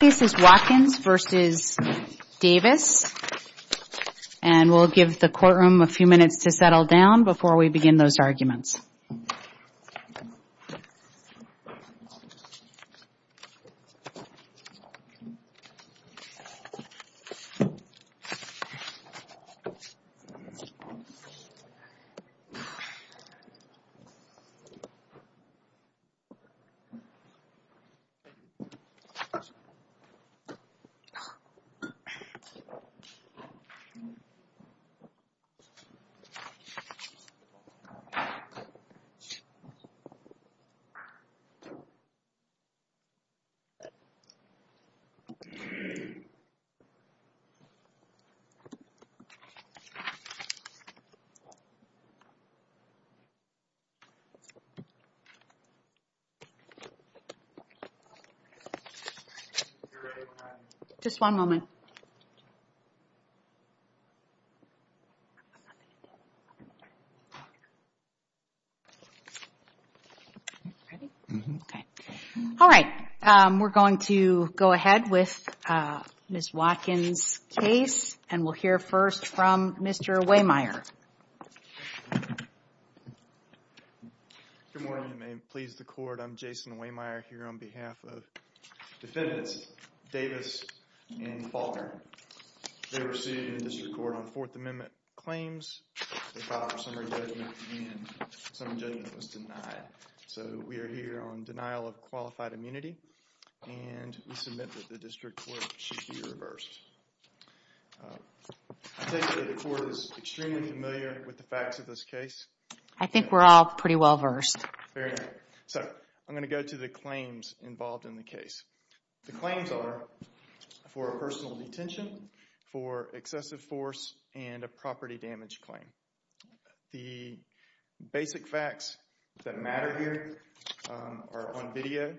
This is Watkins v. Davis, and we'll give the courtroom a few minutes to settle down before we begin those arguments. Just one moment. All right, we're going to go ahead with Ms. Watkins' case, and we'll hear first from Mr. Waymire. Mr. Waymire Good morning, and may it please the court, I'm Jason Waymire here on behalf of defendants Davis and Faulkner. They were sued in the district court on Fourth Amendment claims. They filed a summary judgment, and some judgment was denied. So we are here on denial of qualified immunity, and we submit that the district court should be reversed. I take it the court is extremely familiar with the facts of this case? Ms. Watkins I think we're all pretty well versed. Mr. Waymire So I'm going to go to the claims involved in the case. The claims are for personal detention, for excessive force, and a property damage claim. The basic facts that matter here are on video.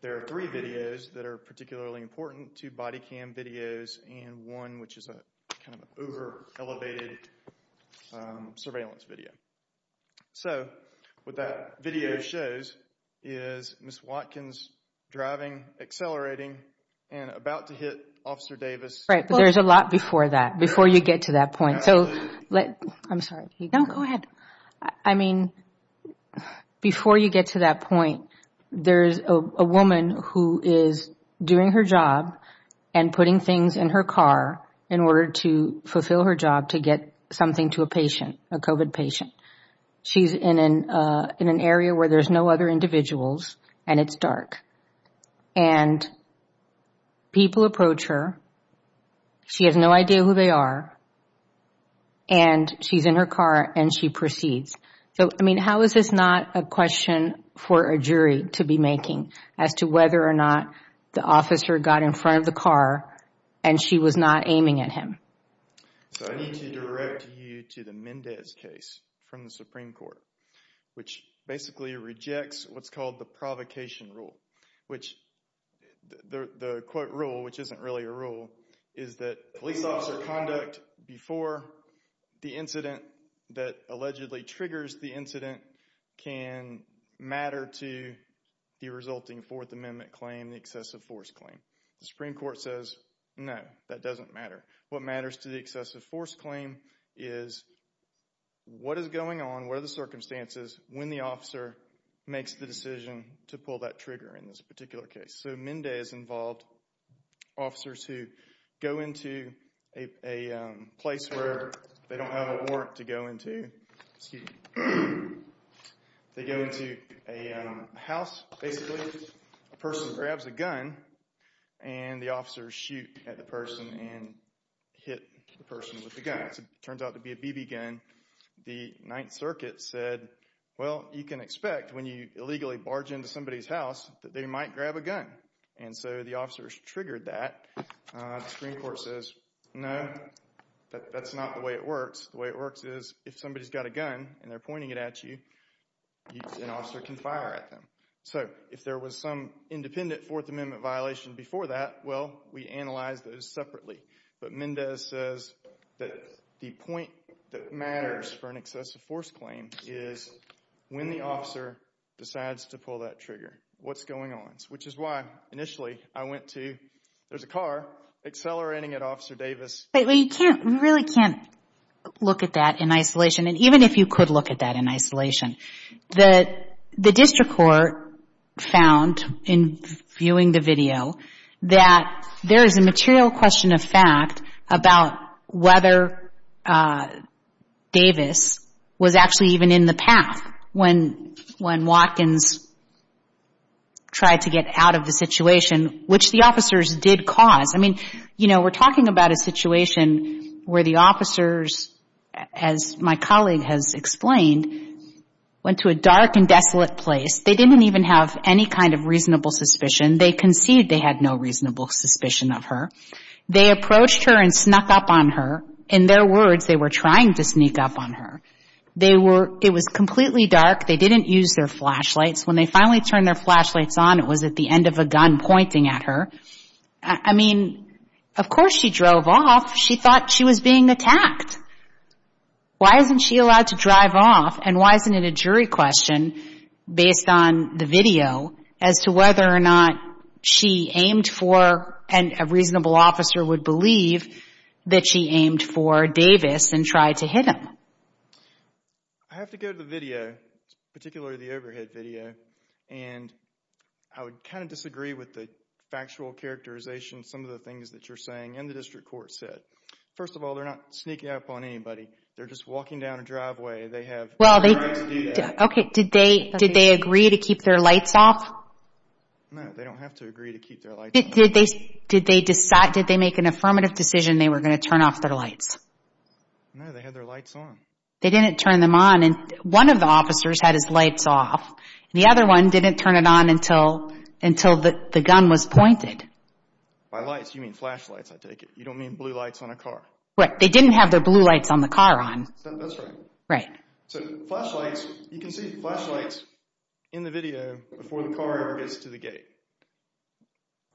There are three videos that are particularly important, two body cam videos, and one which is an over-elevated surveillance video. So what that video shows is Ms. Watkins driving, accelerating, and about to hit Officer Davis. Ms. Watkins Right, but there's a lot before that, before you get to that point. I'm sorry. Go ahead. I mean, before you get to that point, there's a woman who is doing her job and putting things in her car in order to fulfill her job to get something to a patient, a COVID patient. She's in an area where there's no other individuals, and it's dark. And people approach her. She has no idea who they are, and she's in her car, and she proceeds. So, I mean, how is this not a question for a jury to be making as to whether or not the officer got in front of the car, and she was not aiming at him? So I need to direct you to the Mendez case from the Supreme Court, which basically rejects what's called the provocation rule. The quote rule, which isn't really a rule, is that police officer conduct before the incident that allegedly triggers the incident can matter to the resulting Fourth Amendment claim, the excessive force claim. The Supreme Court says, no, that doesn't matter. What matters to the excessive force claim is what is going on, what are the circumstances when the officer makes the decision to pull that trigger in this particular case. So Mendez involved officers who go into a place where they don't have a warrant to go into. They go into a house, basically. A person grabs a gun, and the officers shoot at the person and hit the person with the gun. It turns out to be a BB gun. The Ninth Circuit said, well, you can expect when you illegally barge into somebody's house that they might grab a gun. And so the officers triggered that. The Supreme Court says, no, that's not the way it works. The way it works is if somebody's got a gun and they're pointing it at you, an officer can fire at them. So if there was some independent Fourth Amendment violation before that, well, we analyze those separately. But Mendez says that the point that matters for an excessive force claim is when the officer decides to pull that trigger, what's going on. Which is why, initially, I went to, there's a car accelerating at Officer Davis. Wait, we can't, we really can't look at that in isolation. And even if you could look at that in isolation, the district court found, in viewing the video, that there is a material question of fact about whether Davis was actually even in the path when Watkins tried to get out of the situation, which the officers did cause. I mean, you know, we're talking about a situation where the officers, as my colleague has explained, went to a dark and desolate place. They didn't even have any kind of reasonable suspicion. They conceded they had no reasonable suspicion of her. They approached her and snuck up on her. In their words, they were trying to sneak up on her. They were, it was completely dark. They didn't use their flashlights. When they finally turned their flashlights on, it was at the end of a gun pointing at her. I mean, of course she drove off. She thought she was being attacked. Why isn't she allowed to drive off, and why isn't it a jury question, based on the video, as to whether or not she aimed for, and a reasonable officer would believe, that she aimed for Davis and tried to hit him? I have to go to the video, particularly the overhead video, and I would kind of disagree with the factual characterization, some of the things that you're saying, and the district court said. First of all, they're not sneaking up on anybody. They're just walking down a driveway. They have the right to do that. Okay, did they agree to keep their lights off? No, they don't have to agree to keep their lights on. Did they decide, did they make an affirmative decision they were going to turn off their lights? No, they had their lights on. They didn't turn them on. One of the officers had his lights off. The other one didn't turn it on until the gun was pointed. By lights, you mean flashlights, I take it. You don't mean blue lights on a car. Right. They didn't have their blue lights on the car on. That's right. Right. So flashlights, you can see flashlights in the video before the car ever gets to the gate.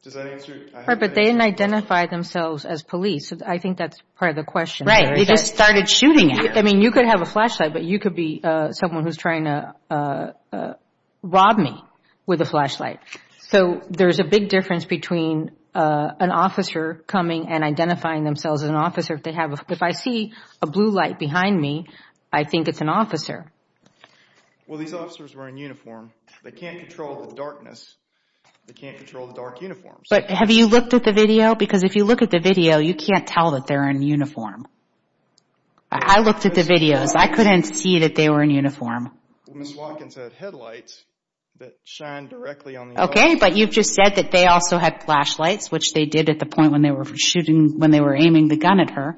Does that answer? But they didn't identify themselves as police. I think that's part of the question. Right. They just started shooting at her. I mean, you could have a flashlight, but you could be someone who's trying to rob me with a flashlight. So there's a big difference between an officer coming and identifying themselves as an officer. If I see a blue light behind me, I think it's an officer. Well, these officers were in uniform. They can't control the darkness. They can't control the dark uniforms. But have you looked at the video? Because if you look at the video, you can't tell that they're in uniform. I looked at the videos. I couldn't see that they were in uniform. Well, Ms. Watkins had headlights that shined directly on the officer. Okay, but you've just said that they also had flashlights, which they did at the point when they were shooting, when they were aiming the gun at her.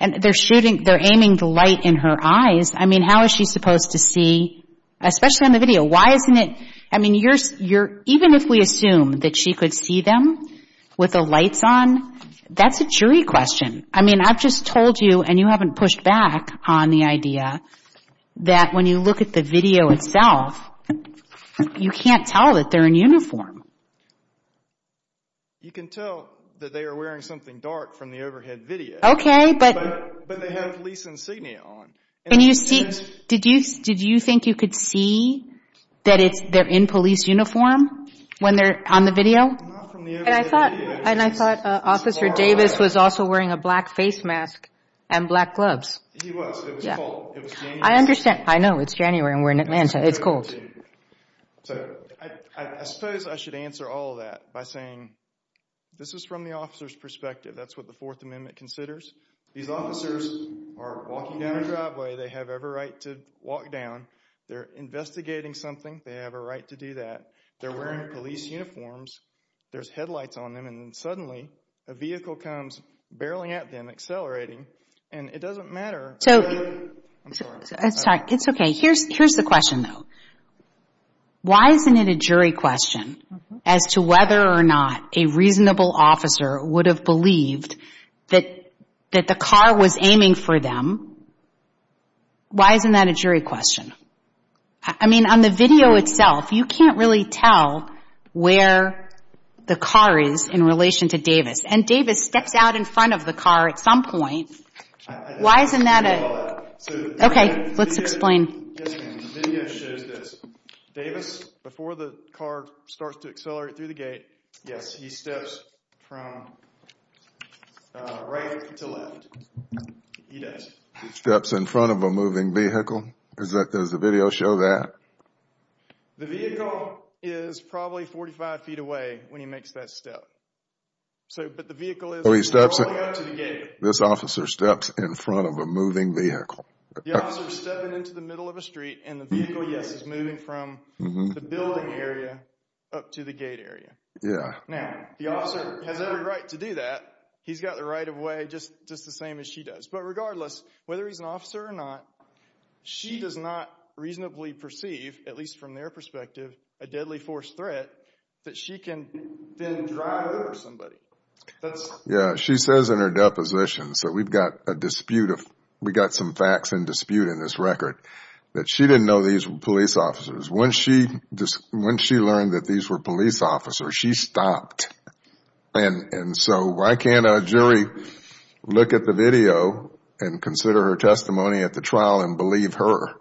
And they're aiming the light in her eyes. I mean, how is she supposed to see, especially on the video? Why isn't it? I mean, even if we assume that she could see them with the lights on, that's a jury question. I mean, I've just told you, and you haven't pushed back on the idea, that when you look at the video itself, you can't tell that they're in uniform. You can tell that they are wearing something dark from the overhead video. Okay, but. But they have police insignia on. And you see, did you think you could see that they're in police uniform when they're on the video? And I thought Officer Davis was also wearing a black face mask and black gloves. He was. It was cold. I understand. I know. It's January and we're in Atlanta. It's cold. So I suppose I should answer all that by saying this is from the officer's perspective. That's what the Fourth Amendment considers. These officers are walking down a driveway. They have every right to walk down. They're investigating something. They have a right to do that. They're wearing police uniforms. There's headlights on them. And then suddenly a vehicle comes barreling at them, accelerating, and it doesn't matter. So. I'm sorry. It's okay. Here's the question, though. Why isn't it a jury question as to whether or not a reasonable officer would have believed that the car was aiming for them? Why isn't that a jury question? I mean, on the video itself, you can't really tell where the car is in relation to Davis. And Davis steps out in front of the car at some point. Why isn't that a. Okay. Let's explain. The video shows this. Davis, before the car starts to accelerate through the gate, yes, he steps from right to left. He does. He steps in front of a moving vehicle. Does the video show that? The vehicle is probably 45 feet away when he makes that step. But the vehicle is rolling up to the gate. This officer steps in front of a moving vehicle. The officer is stepping into the middle of a street, and the vehicle, yes, is moving from the building area up to the gate area. Yeah. Now, the officer has every right to do that. He's got the right of way just the same as she does. But regardless, whether he's an officer or not, she does not reasonably perceive, at least from their perspective, a deadly force threat that she can then drive over somebody. Yeah. She says in her deposition, so we've got some facts in dispute in this record, that she didn't know these were police officers. Once she learned that these were police officers, she stopped. And so why can't a jury look at the video and consider her testimony at the trial and believe her?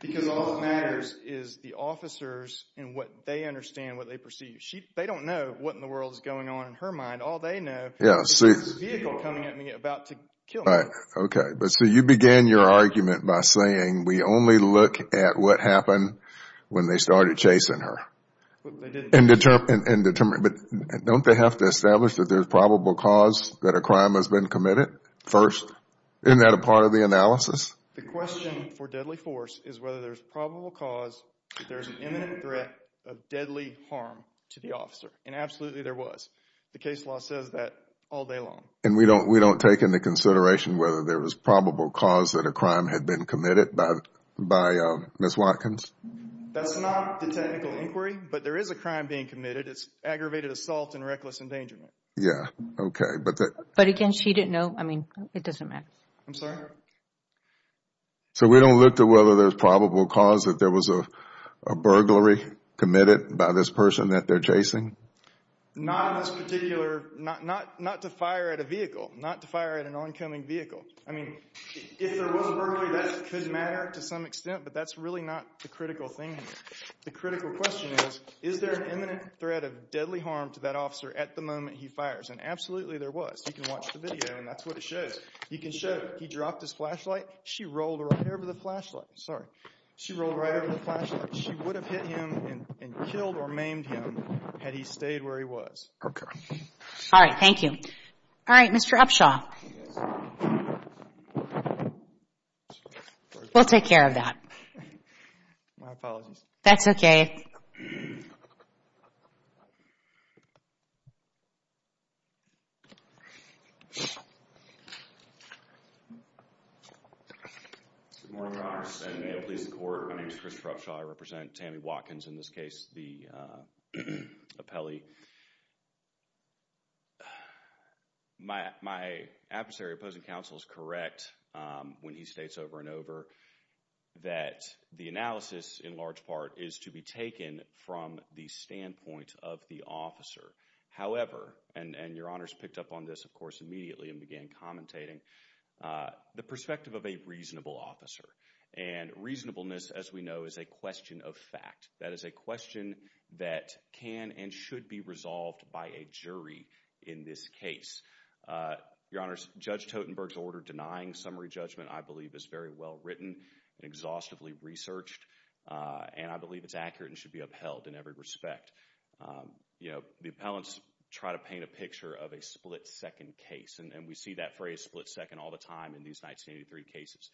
Because all that matters is the officers and what they understand, what they perceive. They don't know what in the world is going on in her mind. All they know is there's a vehicle coming at me about to kill me. Okay. So you began your argument by saying we only look at what happened when they started chasing her. But don't they have to establish that there's probable cause that a crime has been committed first? Isn't that a part of the analysis? The question for deadly force is whether there's probable cause that there's an imminent threat of deadly harm to the officer. And absolutely there was. The case law says that all day long. And we don't take into consideration whether there was probable cause that a crime had been committed by Ms. Watkins? That's not the technical inquiry. But there is a crime being committed. It's aggravated assault and reckless endangerment. Yeah. Okay. But again, she didn't know. I mean, it doesn't matter. I'm sorry? So we don't look to whether there's probable cause that there was a burglary committed by this person that they're chasing? Not in this particular. Not to fire at a vehicle. Not to fire at an oncoming vehicle. I mean, if there was a burglary, that could matter to some extent, but that's really not the critical thing here. The critical question is, is there an imminent threat of deadly harm to that officer at the moment he fires? And absolutely there was. You can watch the video, and that's what it shows. You can show he dropped his flashlight. She rolled right over the flashlight. Sorry. She rolled right over the flashlight. She would have hit him and killed or maimed him had he stayed where he was. All right. Thank you. All right. Mr. Upshaw. Yes. We'll take care of that. My apologies. That's okay. Good morning, Congress. May it please the Court. My name is Christopher Upshaw. I represent Tammy Watkins, in this case, the appellee. My adversary, opposing counsel, is correct when he states over and over that the analysis, in large part, is to be taken from the standpoint of the officer. However, and Your Honors picked up on this, of course, immediately and began commentating, the perspective of a reasonable officer. And reasonableness, as we know, is a question of fact. That is a question that can and should be resolved by a jury in this case. Your Honors, Judge Totenberg's order denying summary judgment, I believe, is very well-written, exhaustively researched, and I believe it's accurate and should be upheld in every respect. You know, the appellants try to paint a picture of a split-second case, and we see that phrase, split-second, all the time in these 1983 cases.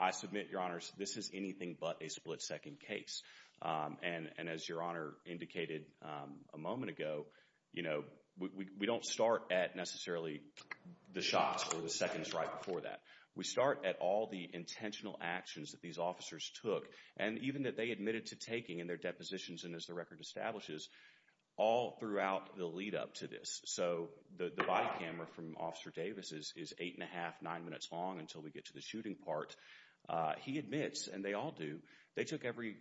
I submit, Your Honors, this is anything but a split-second case. And as Your Honor indicated a moment ago, you know, we don't start at necessarily the shots or the seconds right before that. We start at all the intentional actions that these officers took, and even that they admitted to taking in their depositions and as the record establishes, all throughout the lead-up to this. So the body camera from Officer Davis is eight and a half, nine minutes long until we get to the shooting part. He admits, and they all do, they took every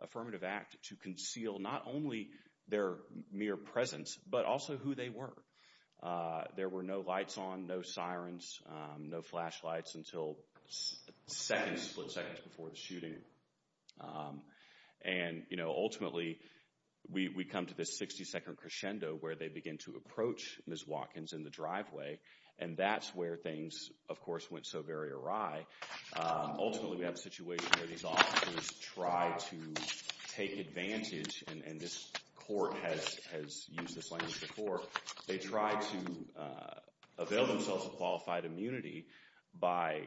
affirmative act to conceal not only their mere presence, but also who they were. There were no lights on, no sirens, no flashlights until seconds, split seconds, before the shooting. And, you know, ultimately, we come to this 60-second crescendo where they begin to approach Ms. Watkins in the driveway, and that's where things, of course, went so very awry. Ultimately, we have a situation where these officers try to take advantage, and this court has used this language before, they try to avail themselves of qualified immunity by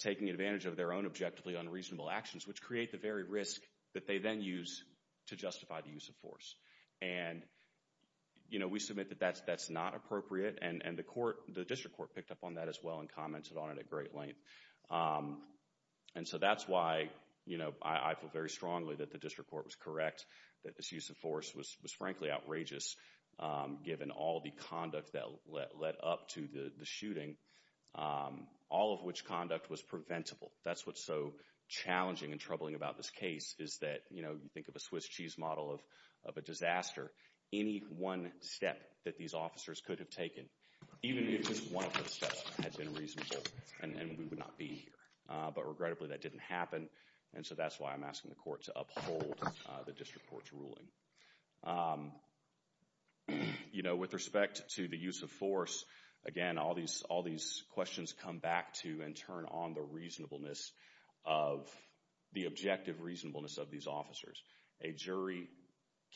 taking advantage of their own objectively unreasonable actions, which create the very risk that they then use to justify the use of force. And, you know, we submit that that's not appropriate, and the court, the district court picked up on that as well and commented on it at great length. And so that's why, you know, I feel very strongly that the district court was correct, that this use of force was frankly outrageous, given all the conduct that led up to the shooting, all of which conduct was preventable. That's what's so challenging and troubling about this case, is that, you know, think of a Swiss cheese model of a disaster. Any one step that these officers could have taken, even if just one of those steps had been reasonable, and we would not be here. But regrettably, that didn't happen, and so that's why I'm asking the court to uphold the district court's ruling. You know, with respect to the use of force, again, all these questions come back to and turn on the reasonableness of, the objective reasonableness of these officers. A jury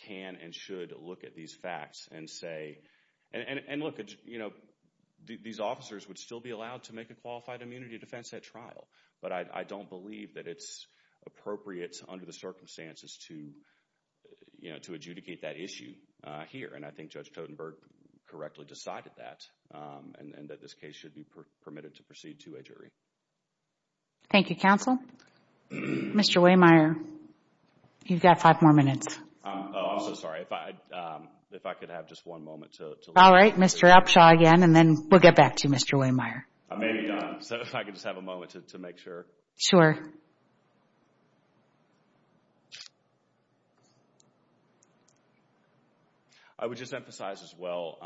can and should look at these facts and say, and look, you know, these officers would still be allowed to make a qualified immunity defense at trial, but I don't believe that it's appropriate under the circumstances to, you know, to adjudicate that issue here, and I think Judge Totenberg correctly decided that, and that this case should be permitted to proceed to a jury. Thank you, counsel. Mr. Wehmeyer, you've got five more minutes. Oh, I'm so sorry. If I could have just one moment to look. All right, Mr. Upshaw again, and then we'll get back to you, Mr. Wehmeyer. I may be done, so if I could just have a moment to make sure. Sure. I would just emphasize as well,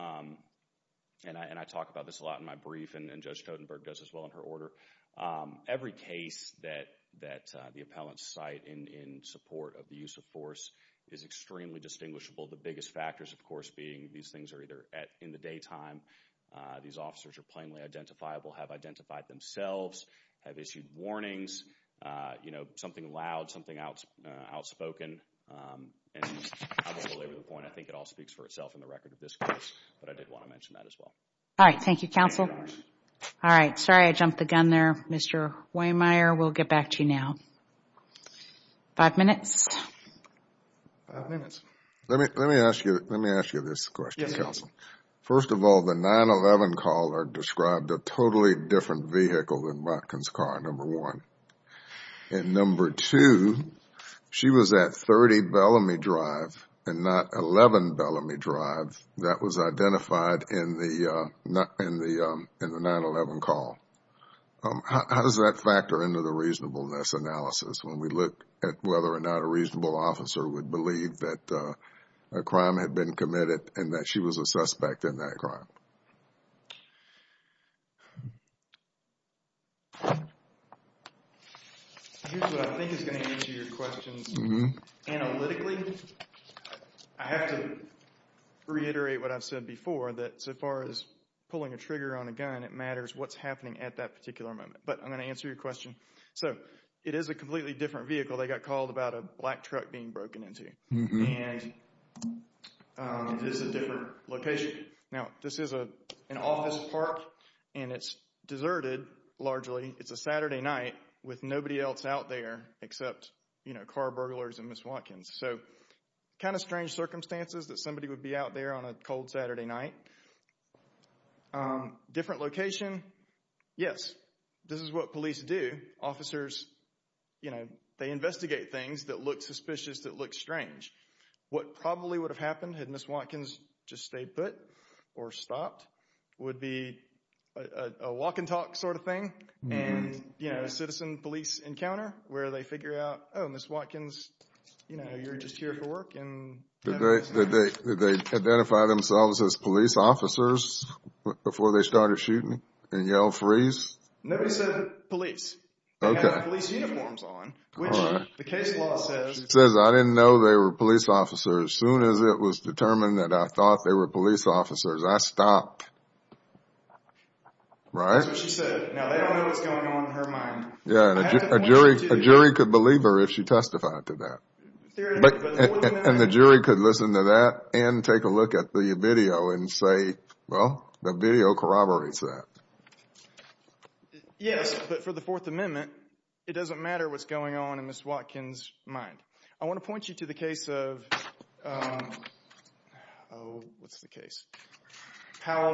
and I talk about this a lot in my brief, and Judge Totenberg does as well in her order, every case that the appellants cite in support of the use of force is extremely distinguishable, the biggest factors, of course, being these things are either in the daytime, these officers are plainly identifiable, have identified themselves, have issued warnings, you know, something loud, something outspoken, and I won't belabor the point. I think it all speaks for itself in the record of this case, but I did want to mention that as well. All right, thank you, counsel. All right, sorry I jumped the gun there, Mr. Wehmeyer. We'll get back to you now. Five minutes. Five minutes. Let me ask you this question, counsel. First of all, the 9-11 caller described a totally different vehicle than Botkin's car, number one. And number two, she was at 30 Bellamy Drive and not 11 Bellamy Drive. That was identified in the 9-11 call. How does that factor into the reasonableness analysis when we look at whether or not a reasonable officer would believe that a crime had been committed and that she was a suspect in that crime? Here's what I think is going to answer your question. Analytically, I have to reiterate what I've said before, that so far as pulling a trigger on a gun, it matters what's happening at that particular moment. But I'm going to answer your question. So it is a completely different vehicle. They got called about a black truck being broken into. And this is a different location. Now, this is an office park, and it's deserted, largely. It's a Saturday night with nobody else out there except car burglars and Ms. Watkins. So kind of strange circumstances that somebody would be out there on a cold Saturday night. Different location, yes, this is what police do. Officers, you know, they investigate things that look suspicious, that look strange. What probably would have happened had Ms. Watkins just stayed put or stopped would be a walk and talk sort of thing and, you know, a citizen police encounter where they figure out, oh, Ms. Watkins, you know, you're just here for work. Did they identify themselves as police officers before they started shooting and yelled freeze? Nobody said police. Okay. They had police uniforms on, which the case law says. It says I didn't know they were police officers. As soon as it was determined that I thought they were police officers, I stopped. Right? That's what she said. Now, they don't know what's going on in her mind. Yeah, and a jury could believe her if she testified to that. And the jury could listen to that and take a look at the video and say, well, the video corroborates that. Yes, but for the Fourth Amendment, it doesn't matter what's going on in Ms. Watkins' mind. I want to point you to the case of Powell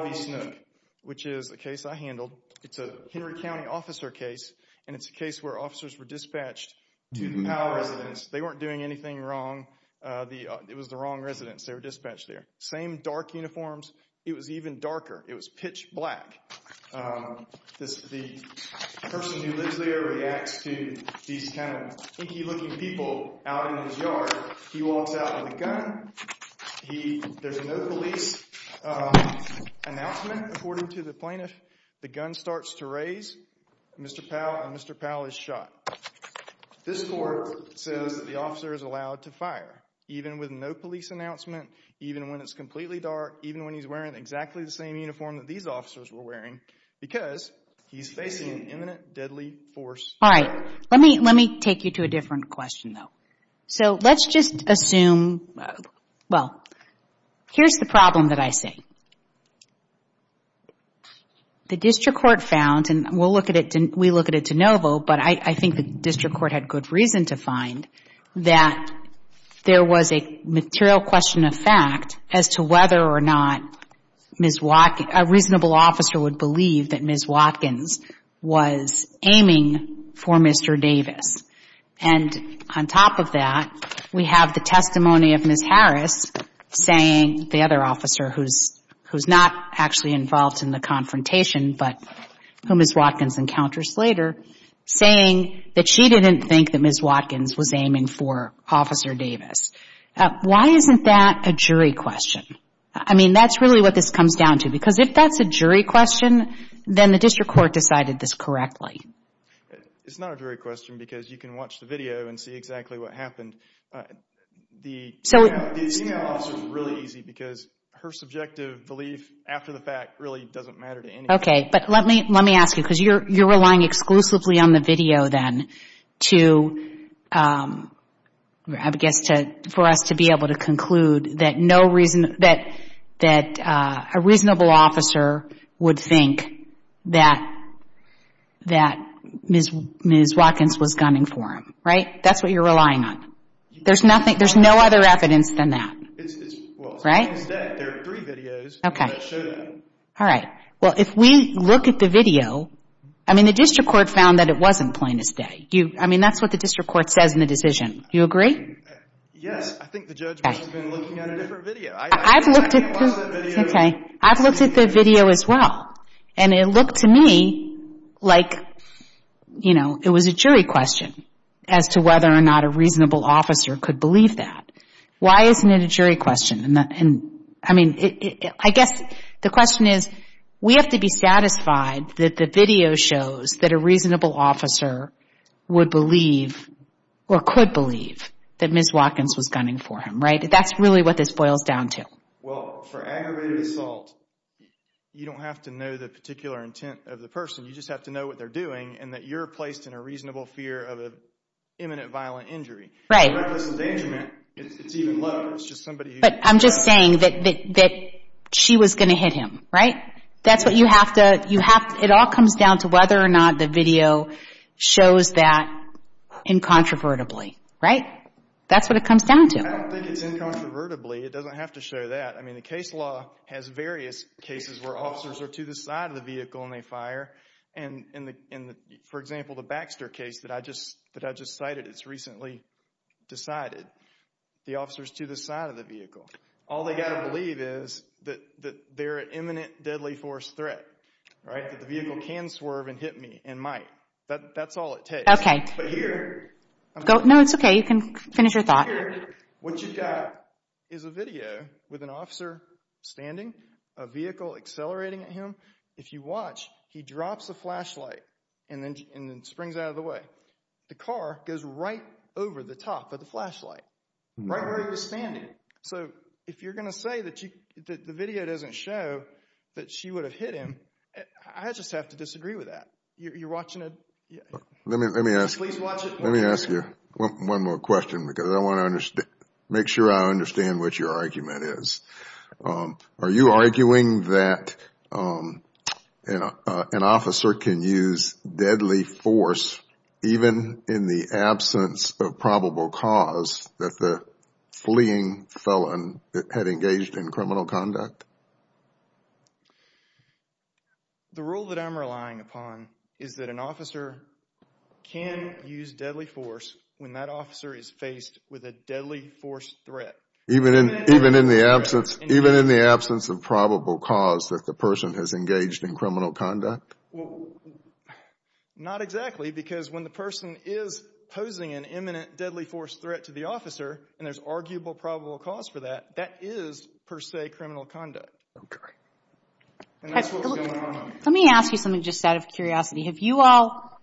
v. Snook, which is a case I handled. It's a Henry County officer case, and it's a case where officers were dispatched to the Powell residence. They weren't doing anything wrong. It was the wrong residence. They were dispatched there. Same dark uniforms. It was even darker. It was pitch black. The person who lives there reacts to these kind of inky-looking people out in his yard. He walks out with a gun. There's no police announcement, according to the plaintiff. The gun starts to raise. Mr. Powell and Mr. Powell is shot. This court says that the officer is allowed to fire, even with no police announcement, even when it's completely dark, even when he's wearing exactly the same uniform that these officers were wearing, because he's facing an imminent deadly force. All right. Let me take you to a different question, though. So let's just assume, well, here's the problem that I see. The district court found, and we'll look at it de novo, but I think the district court had good reason to find, that there was a material question of fact as to whether or not Ms. Watkins, a reasonable officer would believe that Ms. Watkins was aiming for Mr. Davis. And on top of that, we have the testimony of Ms. Harris saying, the other officer who's not actually involved in the confrontation but who Ms. Watkins encounters later, saying that she didn't think that Ms. Watkins was aiming for Officer Davis. Why isn't that a jury question? I mean, that's really what this comes down to, because if that's a jury question, then the district court decided this correctly. It's not a jury question because you can watch the video and see exactly what happened. The e-mail officer is really easy because her subjective belief after the fact really doesn't matter to anybody. Okay, but let me ask you, because you're relying exclusively on the video then for us to be able to conclude that a reasonable officer would think that Ms. Watkins was gunning for him, right? That's what you're relying on. There's no other evidence than that, right? There are three videos that show that. All right. Well, if we look at the video, I mean, the district court found that it wasn't plain as day. I mean, that's what the district court says in the decision. Do you agree? Yes. I think the judge must have been looking at a different video. I've looked at the video as well, and it looked to me like, you know, it was a jury question as to whether or not a reasonable officer could believe that. Why isn't it a jury question? I mean, I guess the question is, we have to be satisfied that the video shows that a reasonable officer would believe or could believe that Ms. Watkins was gunning for him, right? That's really what this boils down to. Well, for aggravated assault, you don't have to know the particular intent of the person. You just have to know what they're doing and that you're placed in a reasonable fear of an imminent violent injury. Right. And reckless endangerment, it's even lower. But I'm just saying that she was going to hit him, right? That's what you have to – it all comes down to whether or not the video shows that incontrovertibly, right? That's what it comes down to. I don't think it's incontrovertibly. It doesn't have to show that. I mean, the case law has various cases where officers are to the side of the vehicle and they fire. For example, the Baxter case that I just cited, it's recently decided. The officer's to the side of the vehicle. All they've got to believe is that they're an imminent deadly force threat, right? That the vehicle can swerve and hit me and might. That's all it takes. But here – No, it's okay. You can finish your thought. Here, what you've got is a video with an officer standing, a vehicle accelerating at him. If you watch, he drops a flashlight and then springs out of the way. The car goes right over the top of the flashlight, right where he was standing. So if you're going to say that the video doesn't show that she would have hit him, I just have to disagree with that. You're watching a – Let me ask you one more question because I want to make sure I understand what your argument is. Are you arguing that an officer can use deadly force even in the absence of probable cause that the fleeing felon had engaged in criminal conduct? The rule that I'm relying upon is that an officer can use deadly force when that officer is faced with a deadly force threat. Even in the absence of probable cause that the person has engaged in criminal conduct? Well, not exactly because when the person is posing an imminent deadly force threat to the officer and there's arguable probable cause for that, that is per se criminal conduct. And that's what's going on. Let me ask you something just out of curiosity. Have you all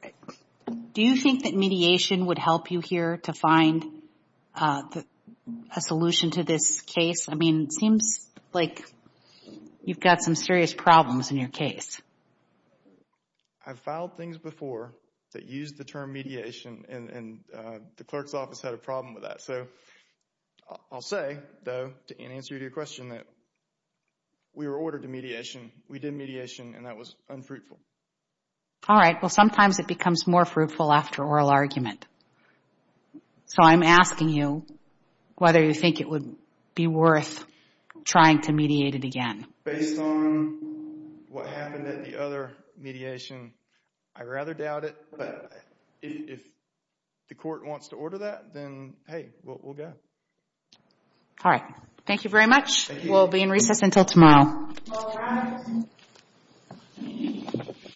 – do you think that mediation would help you here to find a solution to this case? I mean, it seems like you've got some serious problems in your case. I've filed things before that used the term mediation and the clerk's office had a problem with that. So I'll say, though, in answer to your question that we were ordered to mediation. We did mediation and that was unfruitful. All right. Well, sometimes it becomes more fruitful after oral argument. So I'm asking you whether you think it would be worth trying to mediate it again. Based on what happened at the other mediation, I rather doubt it. If the court wants to order that, then hey, we'll go. All right. Thank you very much. We'll be in recess until tomorrow.